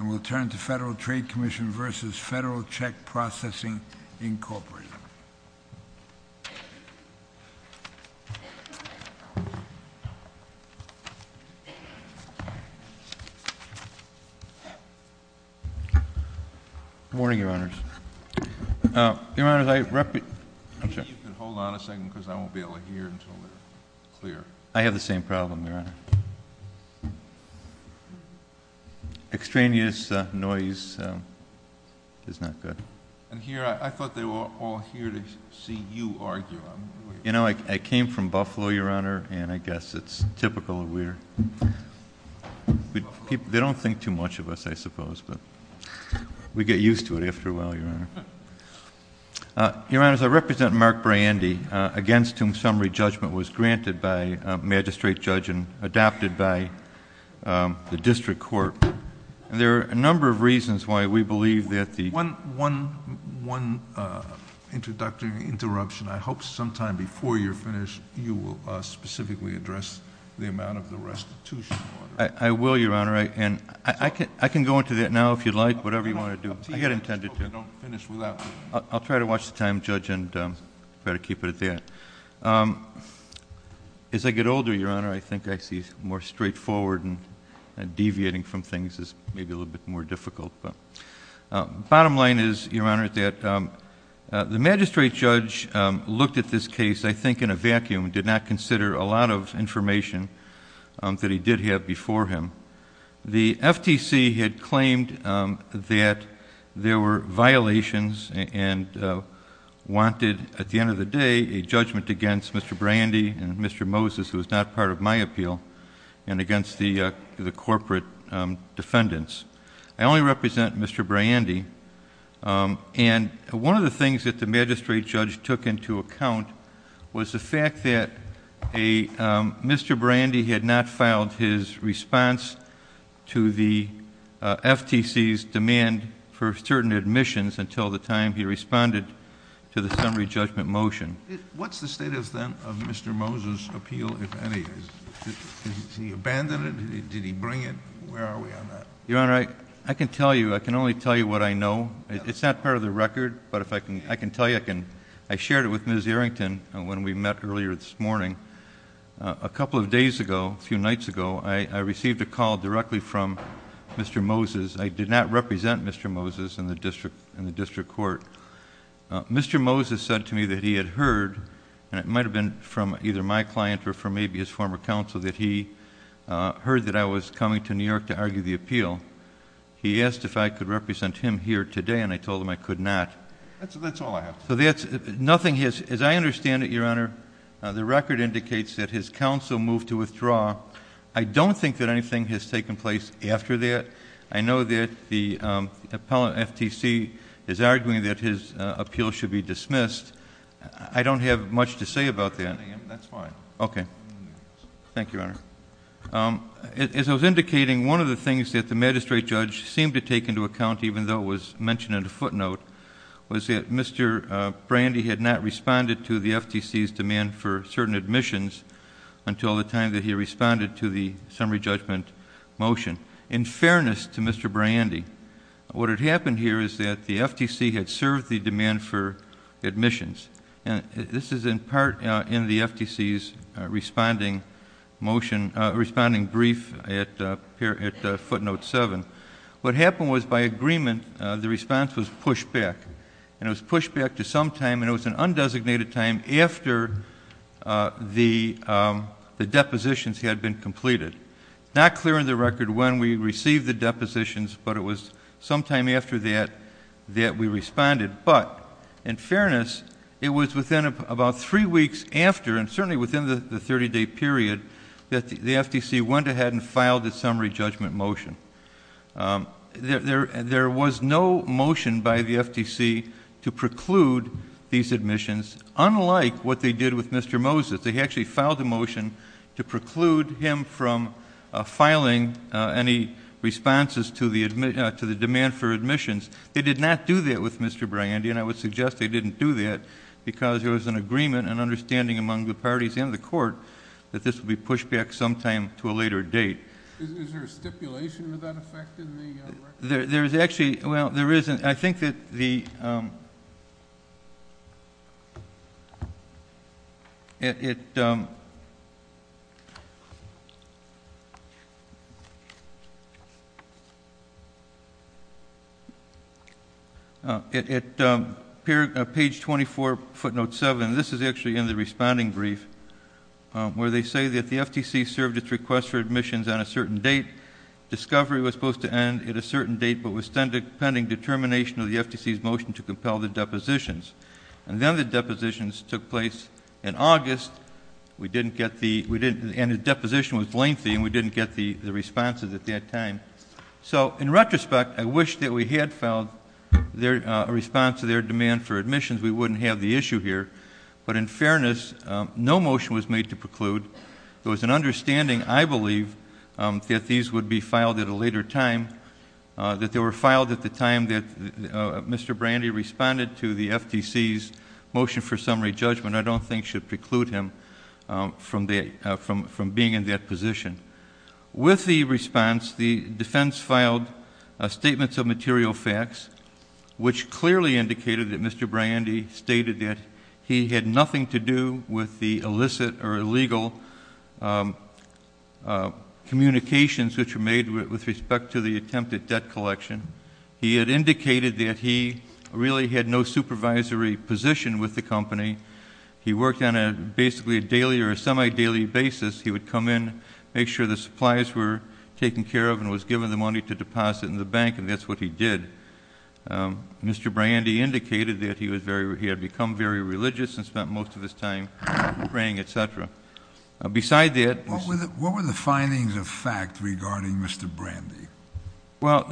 v. Federal Check Processing Incorporated. Good morning, Your Honors. I have the same problem, Your Honor. Extraneous, noise is not good. I came from Buffalo, Your Honor, and I guess it's typical of where they don't think too much of us, I suppose, but we get used to it after a while, Your Honor. Your Honors, I represent Mark Brandy, against whom summary judgment was granted by magistrate judge and adopted by the why we believe that the... One introductory interruption. I hope sometime before you're finished, you will specifically address the amount of the restitution. I will, Your Honor, and I can go into that now if you'd like, whatever you want to do. I get intended to. I'll try to watch the time, Judge, and try to keep it at that. As I get older, Your Honor, I think I see more straightforward and deviating from things is maybe a little bit more difficult. Bottom line is, Your Honor, that the magistrate judge looked at this case, I think, in a vacuum and did not consider a lot of information that he did have before him. The FTC had claimed that there were violations and wanted, at the end of the day, a judgment against Mr. Brandy and Mr. Moses, who is not part of my appeal, and against the corporate defendants. I only represent Mr. Brandy, and one of the things that the magistrate judge took into account was the fact that Mr. Brandy had not filed his response to the FTC's demand for certain admissions until the time he responded to the Mr. Moses appeal, if any. Did he abandon it? Did he bring it? Where are we on that? Your Honor, I can tell you. I can only tell you what I know. It's not part of the record, but if I can tell you, I shared it with Ms. Errington when we met earlier this morning. A couple of days ago, a few nights ago, I received a call directly from Mr. Moses. I did not represent Mr. Moses in the district court. Mr. Moses said to me that he had heard, and it might have been from either my client or from maybe his former counsel, that he heard that I was coming to New York to argue the appeal. He asked if I could represent him here today, and I told him I could not. That's all I have. Nothing has... as I understand it, Your Honor, the record indicates that his counsel moved to withdraw. I don't think that anything has taken place after that. I know that the appellant FTC is arguing that his appeal should be dismissed. I don't have much to say about that. That's fine. Okay. Thank you, Your Honor. As I was indicating, one of the things that the magistrate judge seemed to take into account, even though it was mentioned in a footnote, was that Mr. Brandy had not responded to the FTC's demand for certain admissions until the time that he responded to the summary judgment motion. In fairness to Mr. Brandy, what had happened here is that the FTC had served the demand for admissions. This is in part in the FTC's responding brief at footnote 7. What happened was, by agreement, the response was pushed back, and it was pushed back to some time, and it was an undesignated time, after the depositions had been completed. Not clear in the record when we received the depositions, but it was sometime after that that we responded. But, in fairness, it was within about three weeks after, and certainly within the 30-day period, that the FTC went ahead and filed the summary judgment motion. There was no motion by the FTC to preclude these admissions, unlike what they did with Mr. Moses. They actually filed a motion to preclude him from filing any responses to the demand for admissions. They did not do that with Mr. Brandy, and I would suggest they didn't do that, because there was an agreement and understanding among the parties and the court that this would be pushed back sometime to a later date. Is there a stipulation of that effect in the record? There is actually, well, there isn't. I think that the, it, page 24, footnote 7, this is actually in the responding brief, where they say that the FTC served its request for admissions on a certain date, discovery was supposed to end at a certain date, but was pending determination of the FTC's motion to compel the depositions. And then the depositions took place in August. We didn't get the, and the deposition was lengthy, and we didn't get the responses at that time. So, in retrospect, I wish that we had filed a response to their demand for admissions. We wouldn't have the issue here. But, in fairness, no motion was made to preclude. There was an understanding, I believe, that these would be filed at a time that Mr. Brandy responded to the FTC's motion for summary judgment. I don't think should preclude him from being in that position. With the response, the defense filed statements of material facts, which clearly indicated that Mr. Brandy stated that he had nothing to do with the illicit or He had indicated that he really had no supervisory position with the company. He worked on basically a daily or semi-daily basis. He would come in, make sure the supplies were taken care of and was given the money to deposit in the bank, and that's what he did. Mr. Brandy indicated that he had become very religious and What were the findings of fact regarding Mr. Brandy? Well,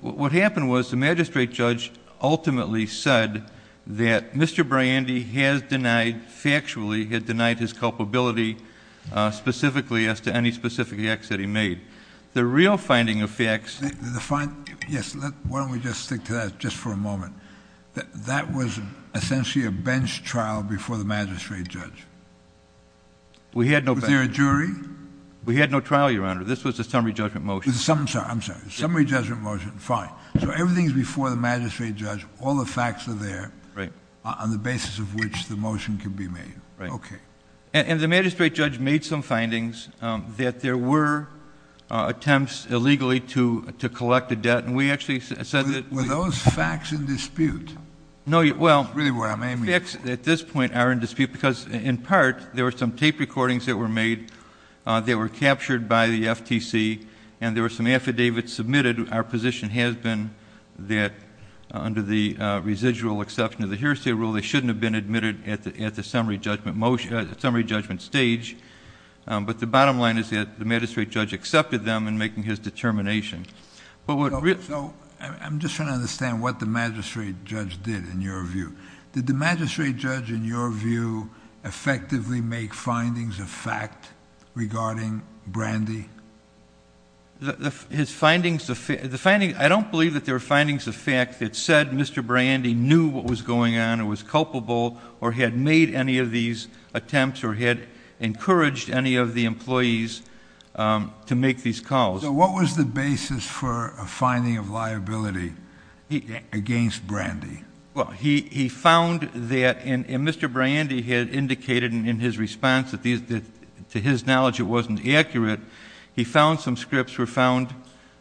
what happened was the magistrate judge ultimately said that Mr. Brandy has denied, factually, he had denied his culpability specifically as to any specific acts that he made. The real finding of facts... Yes, why don't we just stick to that just for a moment. That was essentially a Was there a jury? We had no trial, Your Honor. This was a summary judgment motion. I'm sorry. Summary judgment motion. Fine. So everything is before the magistrate judge. All the facts are there on the basis of which the motion can be made. Right. Okay. And the magistrate judge made some findings that there were attempts illegally to collect a debt, and we actually said that... Were those facts in dispute? No, well... Really, what I'm aiming... The facts at this point are in dispute because, in part, there were some tape recordings that were made that were captured by the FTC, and there were some affidavits submitted. Our position has been that, under the residual exception of the hearsay rule, they shouldn't have been admitted at the summary judgment stage, but the bottom line is that the magistrate judge accepted them in making his determination. I'm just trying to understand what the magistrate judge did, in your view. Did the magistrate judge, in your view, effectively make findings of fact regarding Brandy? I don't believe that there were findings of fact that said Mr. Brandy knew what was going on, or was culpable, or had made any of these attempts, or had encouraged any of the employees to make these calls. So what was the basis for a finding of liability against Brandy? Well, he found that... and Mr. Brandy had indicated in his response that, to his knowledge, it wasn't accurate. He found some scripts were found...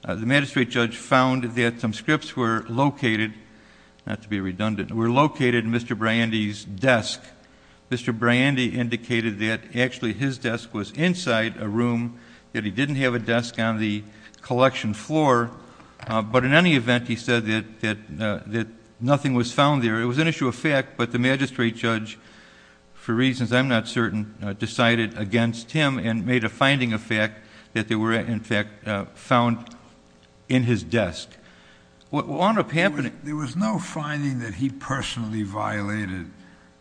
the magistrate judge found that some scripts were located... not to be redundant... were located in Mr. Brandy's desk. Mr. Brandy indicated that actually his desk was inside a room, that he didn't have a desk on the collection floor, but in any event, he said that nothing was found there. It was an issue of fact, but the magistrate judge, for reasons I'm not certain, decided against him and made a finding of fact that they were, in fact, found in his desk. What wound up happening... There was no finding that he personally violated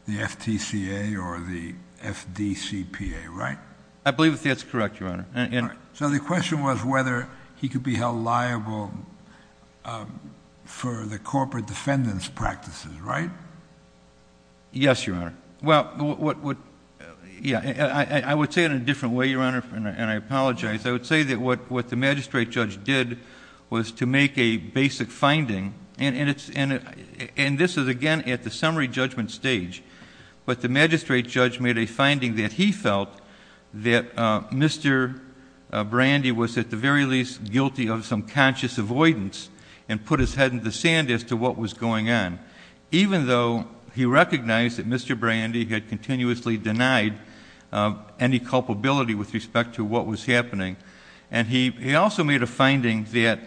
the FTCA or the FDCPA, right? I believe that that's correct, Your Honor. So the question was whether he could be held liable for the corporate defendant's practices, right? Yes, Your Honor. Well, I would say it in a different way, Your Honor, and I apologize. I would say that what the magistrate judge did was to make a basic finding, and this is again at the summary judgment stage, but the magistrate judge made a finding that he felt that Mr. Brandy was at the very least guilty of some conscious avoidance and put his head in the sand as to what was going on, even though he recognized that Mr. Brandy had continuously denied any culpability with respect to what was happening. And he also made a finding that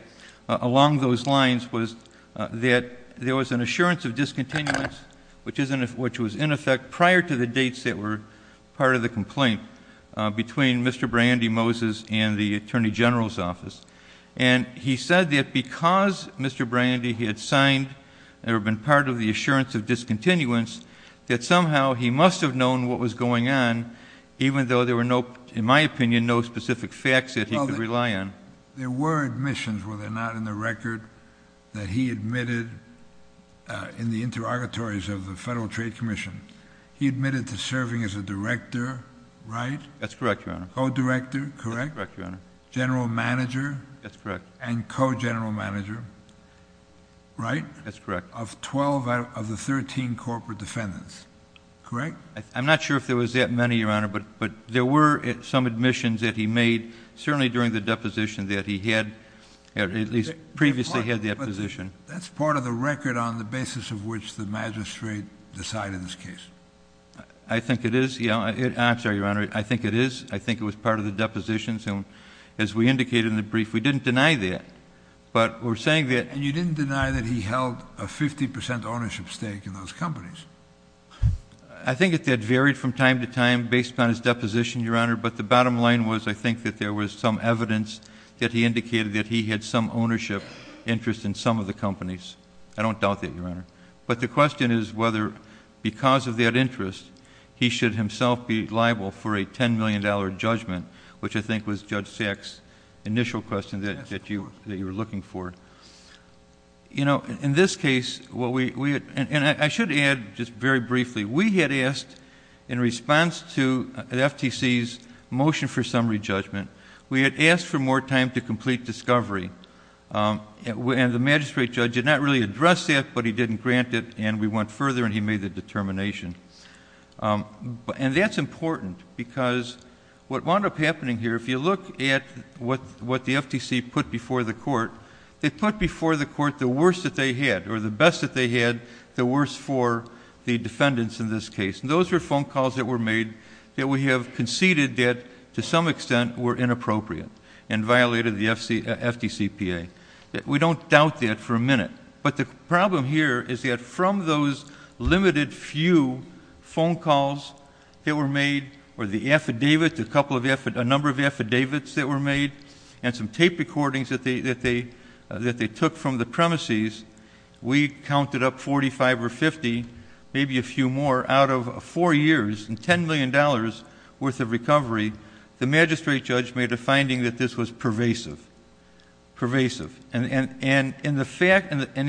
along those lines was that there was an assurance of discontinuance, which was in effect prior to the dates that were part of the complaint between Mr. Brandy, Moses, and the Attorney General's office. And he said that because Mr. Brandy had signed and had been part of the assurance of discontinuance, that somehow he must have known what was going on, even though there were, in my opinion, no specific facts that he could rely on. There were admissions, were there not, in the record that he admitted in the interrogatories of the Federal Trade Commission? He admitted to serving as a director, right? That's correct, Your Honor. Co-director, correct? That's correct, Your Honor. General manager? That's correct. And co-general manager, right? That's correct. Of 12 out of the 13 corporate defendants, correct? I'm not sure if there was that many, Your Honor, but there were some admissions that he made, certainly during the deposition that he had, at least previously had that position. That's part of the record on the basis of which the magistrate decided this case? I think it is. I'm sorry, Your Honor. I think it is. I think it was part of the depositions. And as we indicated in the brief, we didn't deny that. But we're saying that... And you didn't deny that he held a 50 percent ownership stake in those companies? I think that varied from time to time based on his deposition, Your Honor. But the bottom line was I think that there was some evidence that he indicated that he had some ownership interest in some of the companies. I don't doubt that, Your Honor. But the question is whether, because of that interest, he should himself be liable for a $10 million judgment, which I think was Judge Sack's initial question that you were looking for. You know, in this case... and I should add just very briefly, we had asked in response to the FTC's motion for summary judgment, we had asked for more time to complete discovery. And the magistrate judge did not really address that, but he didn't grant it, and we went further and he made the determination. And that's important because what wound up happening here, if you look at what the FTC put before the court, they put before the court the worst that they had or the best that they had, the worst for the defendants in this case. And those were phone calls that were made that we have conceded that to some extent were inappropriate and violated the FTCPA. We don't doubt that for a minute. But the problem here is that from those limited few phone calls that were made, and some tape recordings that they took from the premises, we counted up 45 or 50, maybe a few more, out of four years and $10 million worth of recovery, the magistrate judge made a finding that this was pervasive. And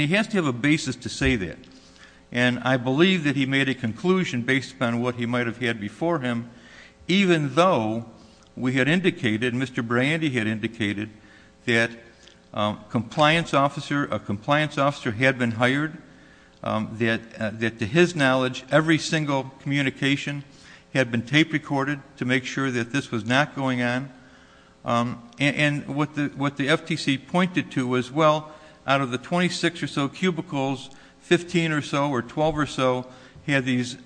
he has to have a basis to say that. And I believe that he made a conclusion based upon what he might have had before him, even though we had indicated, Mr. Brandy had indicated, that a compliance officer had been hired, that to his knowledge, every single communication had been tape recorded to make sure that this was not going on. And what the FTC pointed to was, well, out of the 26 or so cubicles, 15 or so or 12 or so had these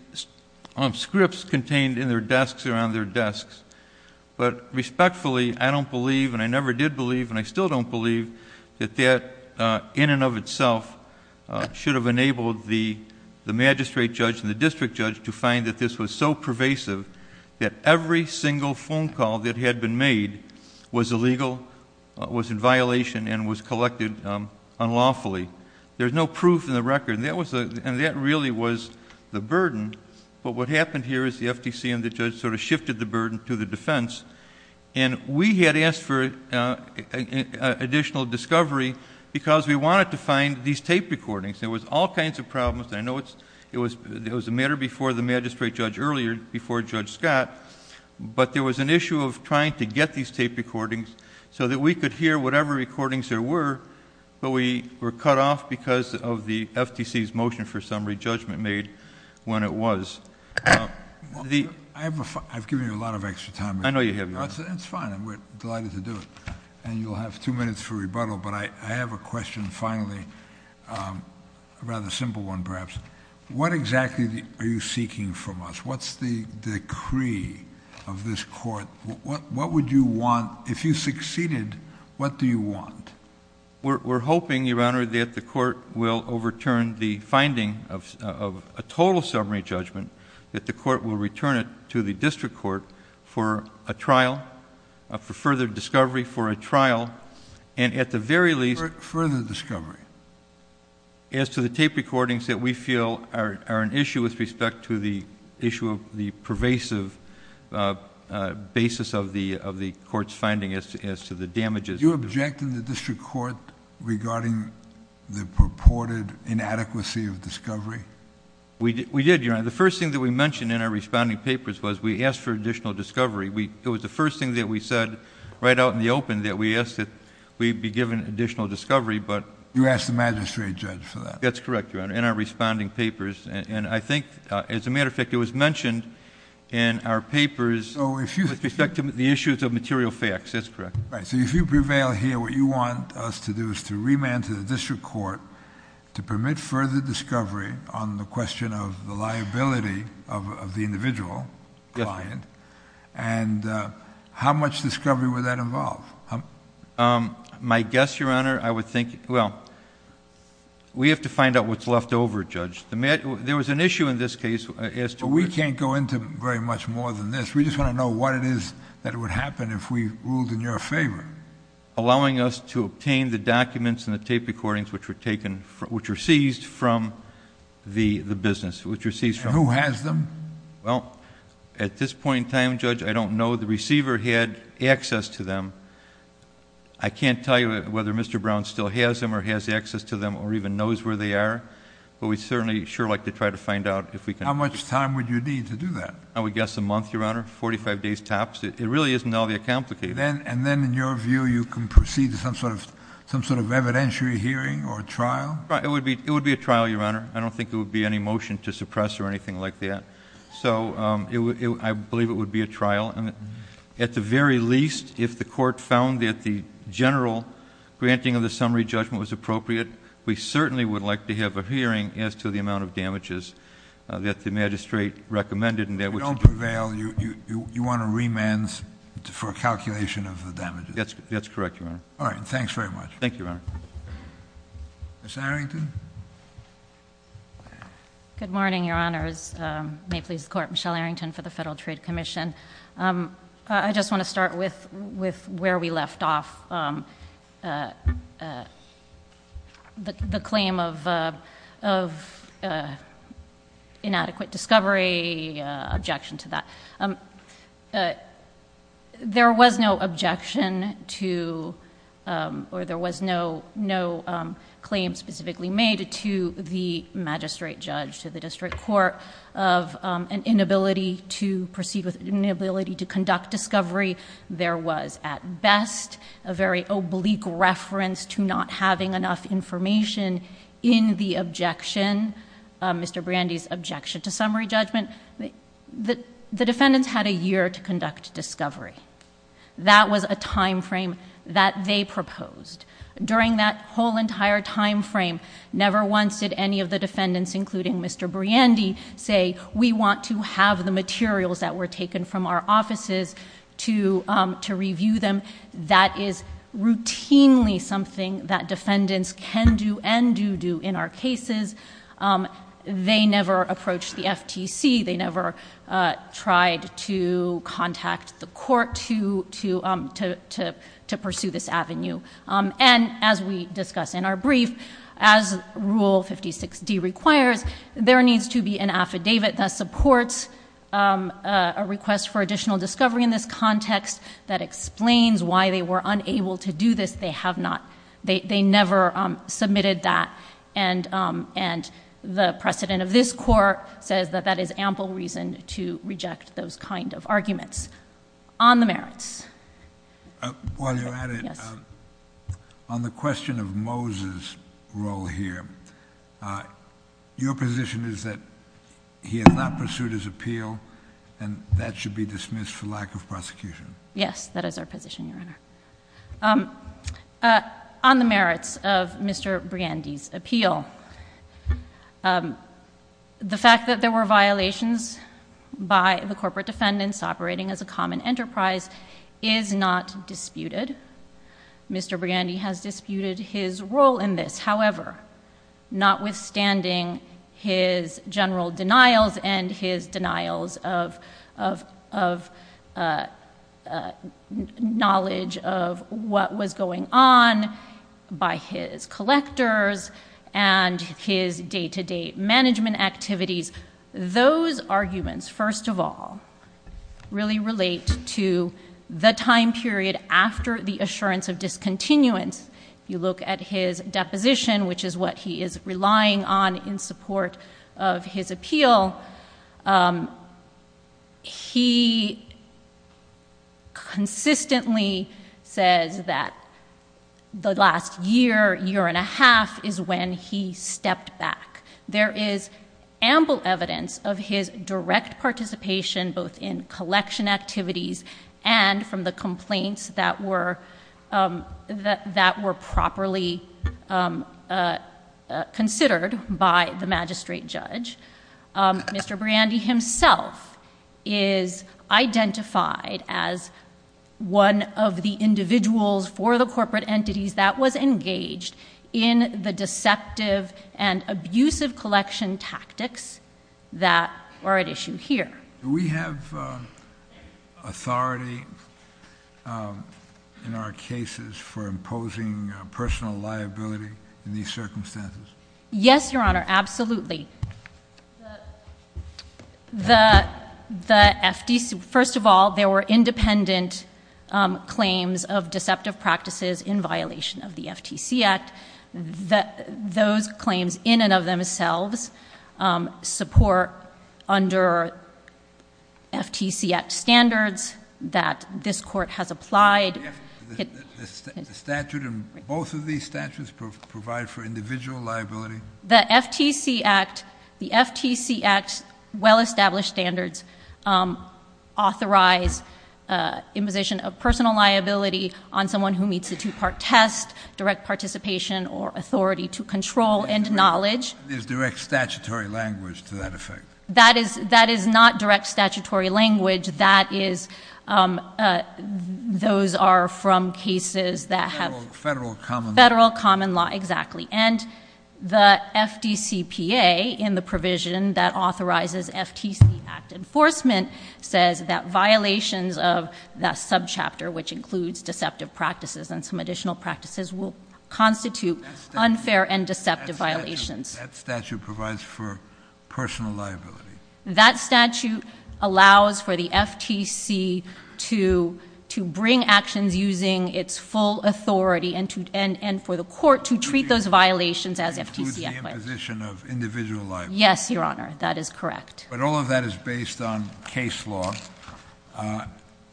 scripts contained in their desks or on their desks. But respectfully, I don't believe, and I never did believe, and I still don't believe, that that in and of itself should have enabled the magistrate judge and the district judge to find that this was so pervasive that every single phone call that had been made was illegal, was in violation, and was collected unlawfully. There's no proof in the record. And that really was the burden. But what happened here is the FTC and the judge sort of shifted the burden to the defense. And we had asked for additional discovery because we wanted to find these tape recordings. There was all kinds of problems. I know it was a matter before the magistrate judge earlier, before Judge Scott, but there was an issue of trying to get these tape recordings so that we could hear whatever recordings there were, but we were cut off because of the FTC's motion for summary judgment made when it was. I've given you a lot of extra time. I know you have. It's fine. We're delighted to do it. And you'll have two minutes for rebuttal, but I have a question finally, a rather simple one perhaps. What exactly are you seeking from us? What's the decree of this court? What would you want, if you succeeded, what do you want? We're hoping, Your Honor, that the court will overturn the finding of a total summary judgment, that the court will return it to the district court for a trial, for further discovery, for a trial, and at the very least. Further discovery? As to the tape recordings that we feel are an issue with respect to the issue of the pervasive basis of the court's finding as to the damages. Did you object in the district court regarding the purported inadequacy of discovery? We did, Your Honor. The first thing that we mentioned in our responding papers was we asked for additional discovery. It was the first thing that we said right out in the open that we asked that we be given additional discovery, but... You asked the magistrate judge for that? That's correct, Your Honor, in our responding papers. And I think, as a matter of fact, it was mentioned in our papers... So if you... With respect to the issues of material facts, that's correct. Right. So if you prevail here, what you want us to do is to remand to the district court to permit further discovery on the question of the liability of the individual client, and how much discovery would that involve? My guess, Your Honor, I would think... Well, we have to find out what's left over, Judge. There was an issue in this case as to... But we can't go into very much more than this. We just want to know what it is that would happen if we ruled in your favor. Allowing us to obtain the documents and the tape recordings which were taken... which were seized from the business, which were seized from... And who has them? Well, at this point in time, Judge, I don't know. The receiver had access to them. I can't tell you whether Mr. Brown still has them or has access to them or even knows where they are, but we'd certainly sure like to try to find out if we can... How much time would you need to do that? I would guess a month, Your Honor, 45 days tops. It really isn't all that complicated. And then, in your view, you can proceed to some sort of evidentiary hearing or trial? It would be a trial, Your Honor. I don't think there would be any motion to suppress or anything like that. So, I believe it would be a trial. At the very least, if the Court found that the general granting of the summary judgment was appropriate, we certainly would like to have a hearing as to the amount of damages that the magistrate recommended. If you don't prevail, you want a remand for a calculation of the damages? That's correct, Your Honor. All right. Thanks very much. Thank you, Your Honor. Ms. Arrington? Good morning, Your Honors. May it please the Court, Michelle Arrington for the Federal Trade Commission. I just want to start with where we left off, the claim of inadequate discovery, objection to that. There was no objection to or there was no claim specifically made to the magistrate judge, to the district court of an inability to proceed with... inability to process, a very oblique reference to not having enough information in the objection, Mr. Briandy's objection to summary judgment. The defendants had a year to conduct discovery. That was a time frame that they proposed. During that whole entire time frame, never once did any of the defendants, including Mr. Briandy, say, we want to have the materials that were taken from our offices to review them. That is routinely something that defendants can do and do do in our cases. They never approached the FTC. They never tried to contact the court to pursue this avenue. As we discuss in our brief, as Rule 56D requires, there needs to be an affidavit that supports a request for additional discovery in this context, that explains why they were unable to do this. They have not... they never submitted that. And the precedent of this Court says that that is ample reason to reject those kind of arguments. On the merits... While you're at it, on the question of Moses' role here, your position is that he has not pursued his appeal and that should be dismissed for lack of prosecution. Yes, that is our position, Your Honor. On the merits of Mr. Briandy's appeal, the fact that there were violations by the corporate defendants operating as a common enterprise is not disputed. Mr. Briandy has disputed his role in this. However, notwithstanding his general denials and his denials of knowledge of what was going on by his really relate to the time period after the assurance of discontinuance. If you look at his deposition, which is what he is relying on in support of his appeal, he consistently says that the last year, year and a half, is when he collection activities and from the complaints that were properly considered by the magistrate judge. Mr. Briandy himself is identified as one of the individuals for the corporate entities that was engaged in the deceptive and authority in our cases for imposing personal liability in these circumstances? Yes, Your Honor, absolutely. First of all, there were independent claims of deceptive practices in violation of the FTC Act. Those claims in and of themselves support under FTC Act standards that this Court has applied. The statute and both of these statutes provide for individual liability? The FTC Act, the FTC Act's well-established standards authorize imposition of direct participation or authority to control and knowledge. There's direct statutory language to that effect? That is not direct statutory language. Those are from cases that have... Federal common law. Federal common law, exactly. And the FDCPA in the provision that authorizes FTC Act enforcement says that violations of that subchapter, which includes deceptive practices and some additional practices, will constitute unfair and deceptive violations. That statute provides for personal liability? That statute allows for the FTC to bring actions using its full authority and for the Court to treat those violations as FTC. Includes the imposition of individual liability? Yes, Your Honor, that is correct. But all of that is based on case law.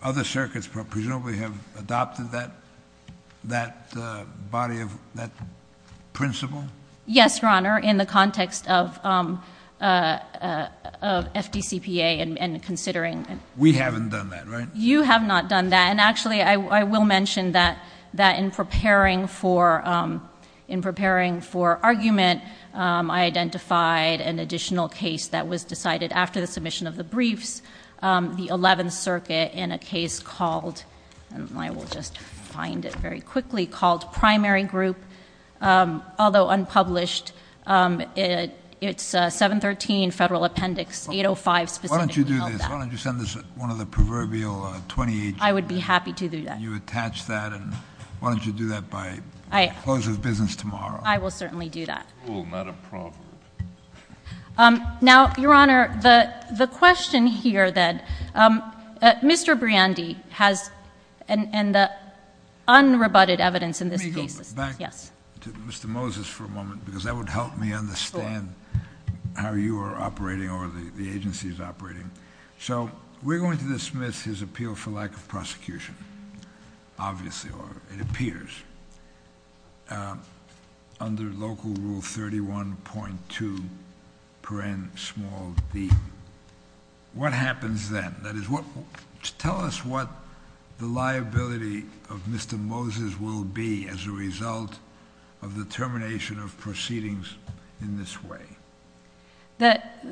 Other circuits presumably have adopted that body of, that principle? Yes, Your Honor, in the context of FDCPA and considering... We haven't done that, right? You have not done that. And actually, I will mention that in preparing for this argument, I identified an additional case that was decided after the submission of the briefs. The 11th Circuit in a case called, and I will just find it very quickly, called Primary Group. Although unpublished, it's 713 Federal Appendix 805 specifically held that. Why don't you do this? Why don't you send this to one of the proverbial 28... I would be happy to do that. You attach that and why don't you do that by close of business tomorrow? I will certainly do that. Oh, not a proverb. Now, Your Honor, the question here then, Mr. Briandy has, and the unrebutted evidence in this case... Let me go back to Mr. Moses for a moment because that would help me understand how you are operating or the agency is operating. So we're going to dismiss his under local rule 31.2 paren small d. What happens then? Tell us what the liability of Mr. Moses will be as a result of the termination of proceedings in this way. That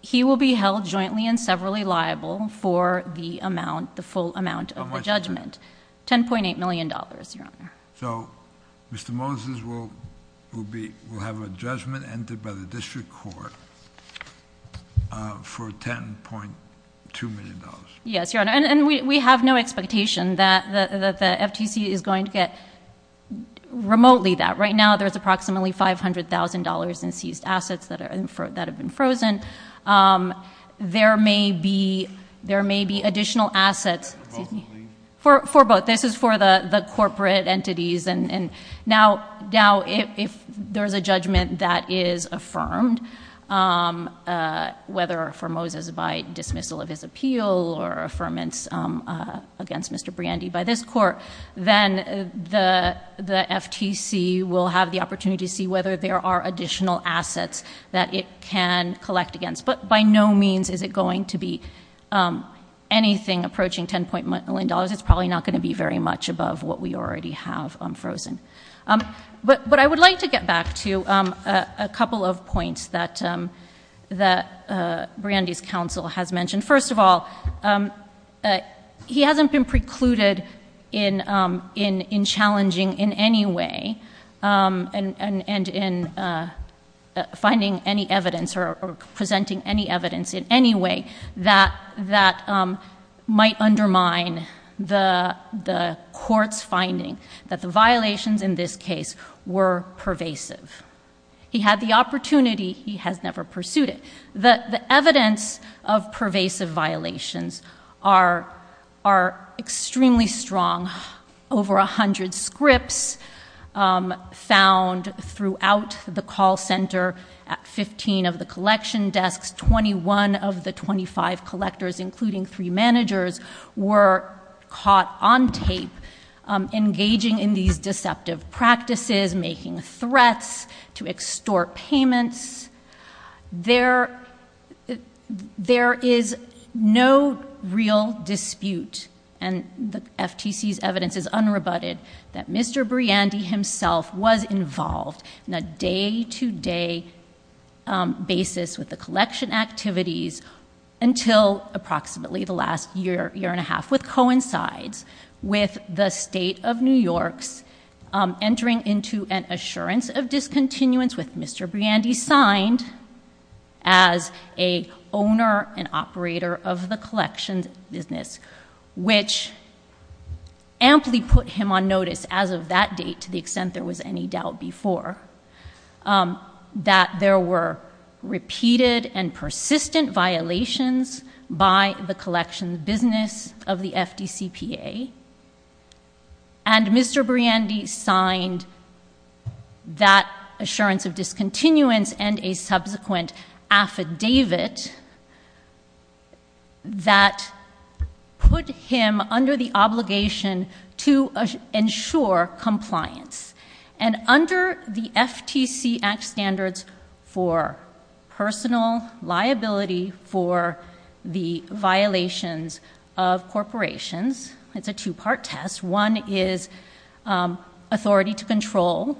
he will be held jointly and severally liable for the amount, the full amount of the judgment. How much is it? $10.8 million, Your Honor. So Mr. Moses will have a judgment entered by the district court for $10.2 million. Yes, Your Honor, and we have no expectation that the FTC is going to get remotely that. Right now, there's approximately $500,000 in seized assets that have been frozen. There may be additional assets... For both of these? For both. This is for the corporate entities. Now, if there's a judgment that is affirmed, whether for Moses by dismissal of his appeal or affirmance against Mr. Briandy by this court, then the FTC will have the opportunity to see whether there are additional assets that it can collect against. But by no means is it going to be anything approaching $10.1 million. It's probably not going to be very much above what we already have frozen. But I would like to get back to a couple of points that Briandy's counsel has mentioned. First of all, he hasn't been precluded in challenging in any way and in finding any evidence or presenting any evidence in any way that might undermine the court's finding that the violations in this case were pervasive. He had the opportunity. He has never pursued it. The evidence of this case found throughout the call center at 15 of the collection desks, 21 of the 25 collectors, including three managers, were caught on tape engaging in these deceptive practices, making threats to extort payments. There is no real dispute, and the FTC's evidence is unrebutted, that Mr. Briandy himself was involved in a day-to-day basis with the collection activities until approximately the last year, year and a half, which coincides with the state of New York's entering into an assurance of discontinuance with Mr. Briandy signed as an owner and operator of the collection business, which amply put him on notice as of that date, to the extent there was any doubt before, that there were repeated and persistent violations by the collection business of the FDCPA, and Mr. Briandy signed that assurance of discontinuance and a subsequent affidavit that put him under the obligation to ensure compliance. And under the FTC Act standards for personal liability for the violations of corporations, it's a two-part test. One is authority to control,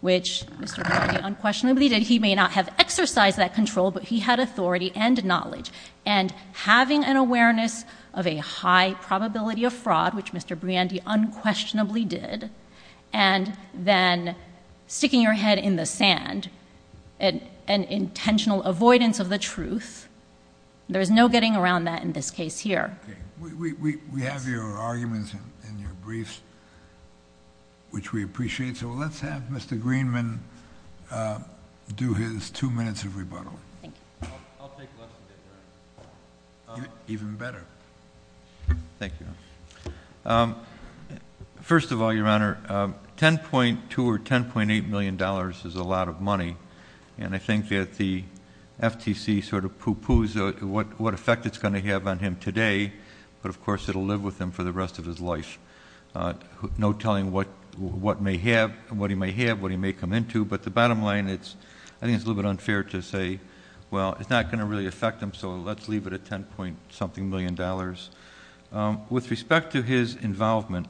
which Mr. Briandy unquestionably did. He may not have exercised that control, but he had authority and knowledge. And having an awareness of a high probability of fraud, which Mr. Briandy unquestionably did, and then sticking your head in the sand, an intentional avoidance of the truth, there is no getting around that in this case here. Okay. We have your arguments in your briefs, which we appreciate. So let's have Mr. Greenman do his two minutes of rebuttal. I'll take less than that, Your Honor. Even better. Thank you, Your Honor. First of all, Your Honor, $10.2 or $10.8 million is a lot of money, and I think that the FTC sort of poo-poos what effect it's going to have on him today, but of course it'll live with him for the rest of his life, no telling what he may have, what he may come into. But the bottom line, I think it's a little bit unfair to say, well, it's not going to really affect him, so let's leave it at $10-point-something million. With respect to his involvement,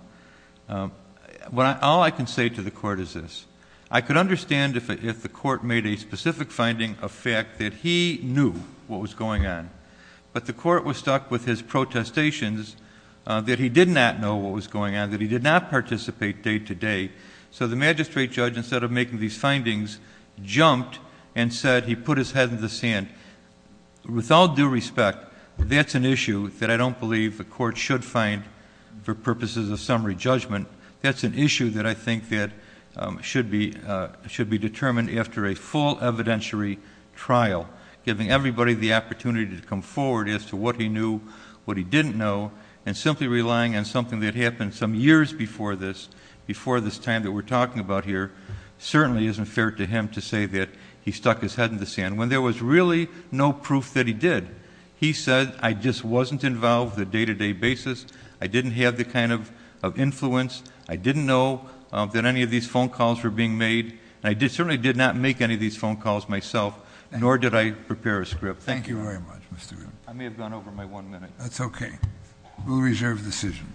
all I can say to the Court is this. I could understand if the Court made a specific finding of that he knew what was going on, but the Court was stuck with his protestations that he did not know what was going on, that he did not participate day-to-day. So the magistrate judge, instead of making these findings, jumped and said he put his head in the sand. With all due respect, that's an issue that I don't believe the Court should find for purposes of summary judgment. That's an issue that I think that should be determined after a full evidentiary trial. Giving everybody the opportunity to come forward as to what he knew, what he didn't know, and simply relying on something that happened some years before this, before this time that we're talking about here, certainly isn't fair to him to say that he stuck his head in the sand. When there was really no proof that he did, he said, I just wasn't involved the day-to-day basis. I didn't have the kind of influence. I didn't know that any of these phone calls were being made. I certainly did not make any of these phone calls myself, nor did I prepare a script. Thank you. I may have gone over my one minute. That's okay. We'll reserve the decision.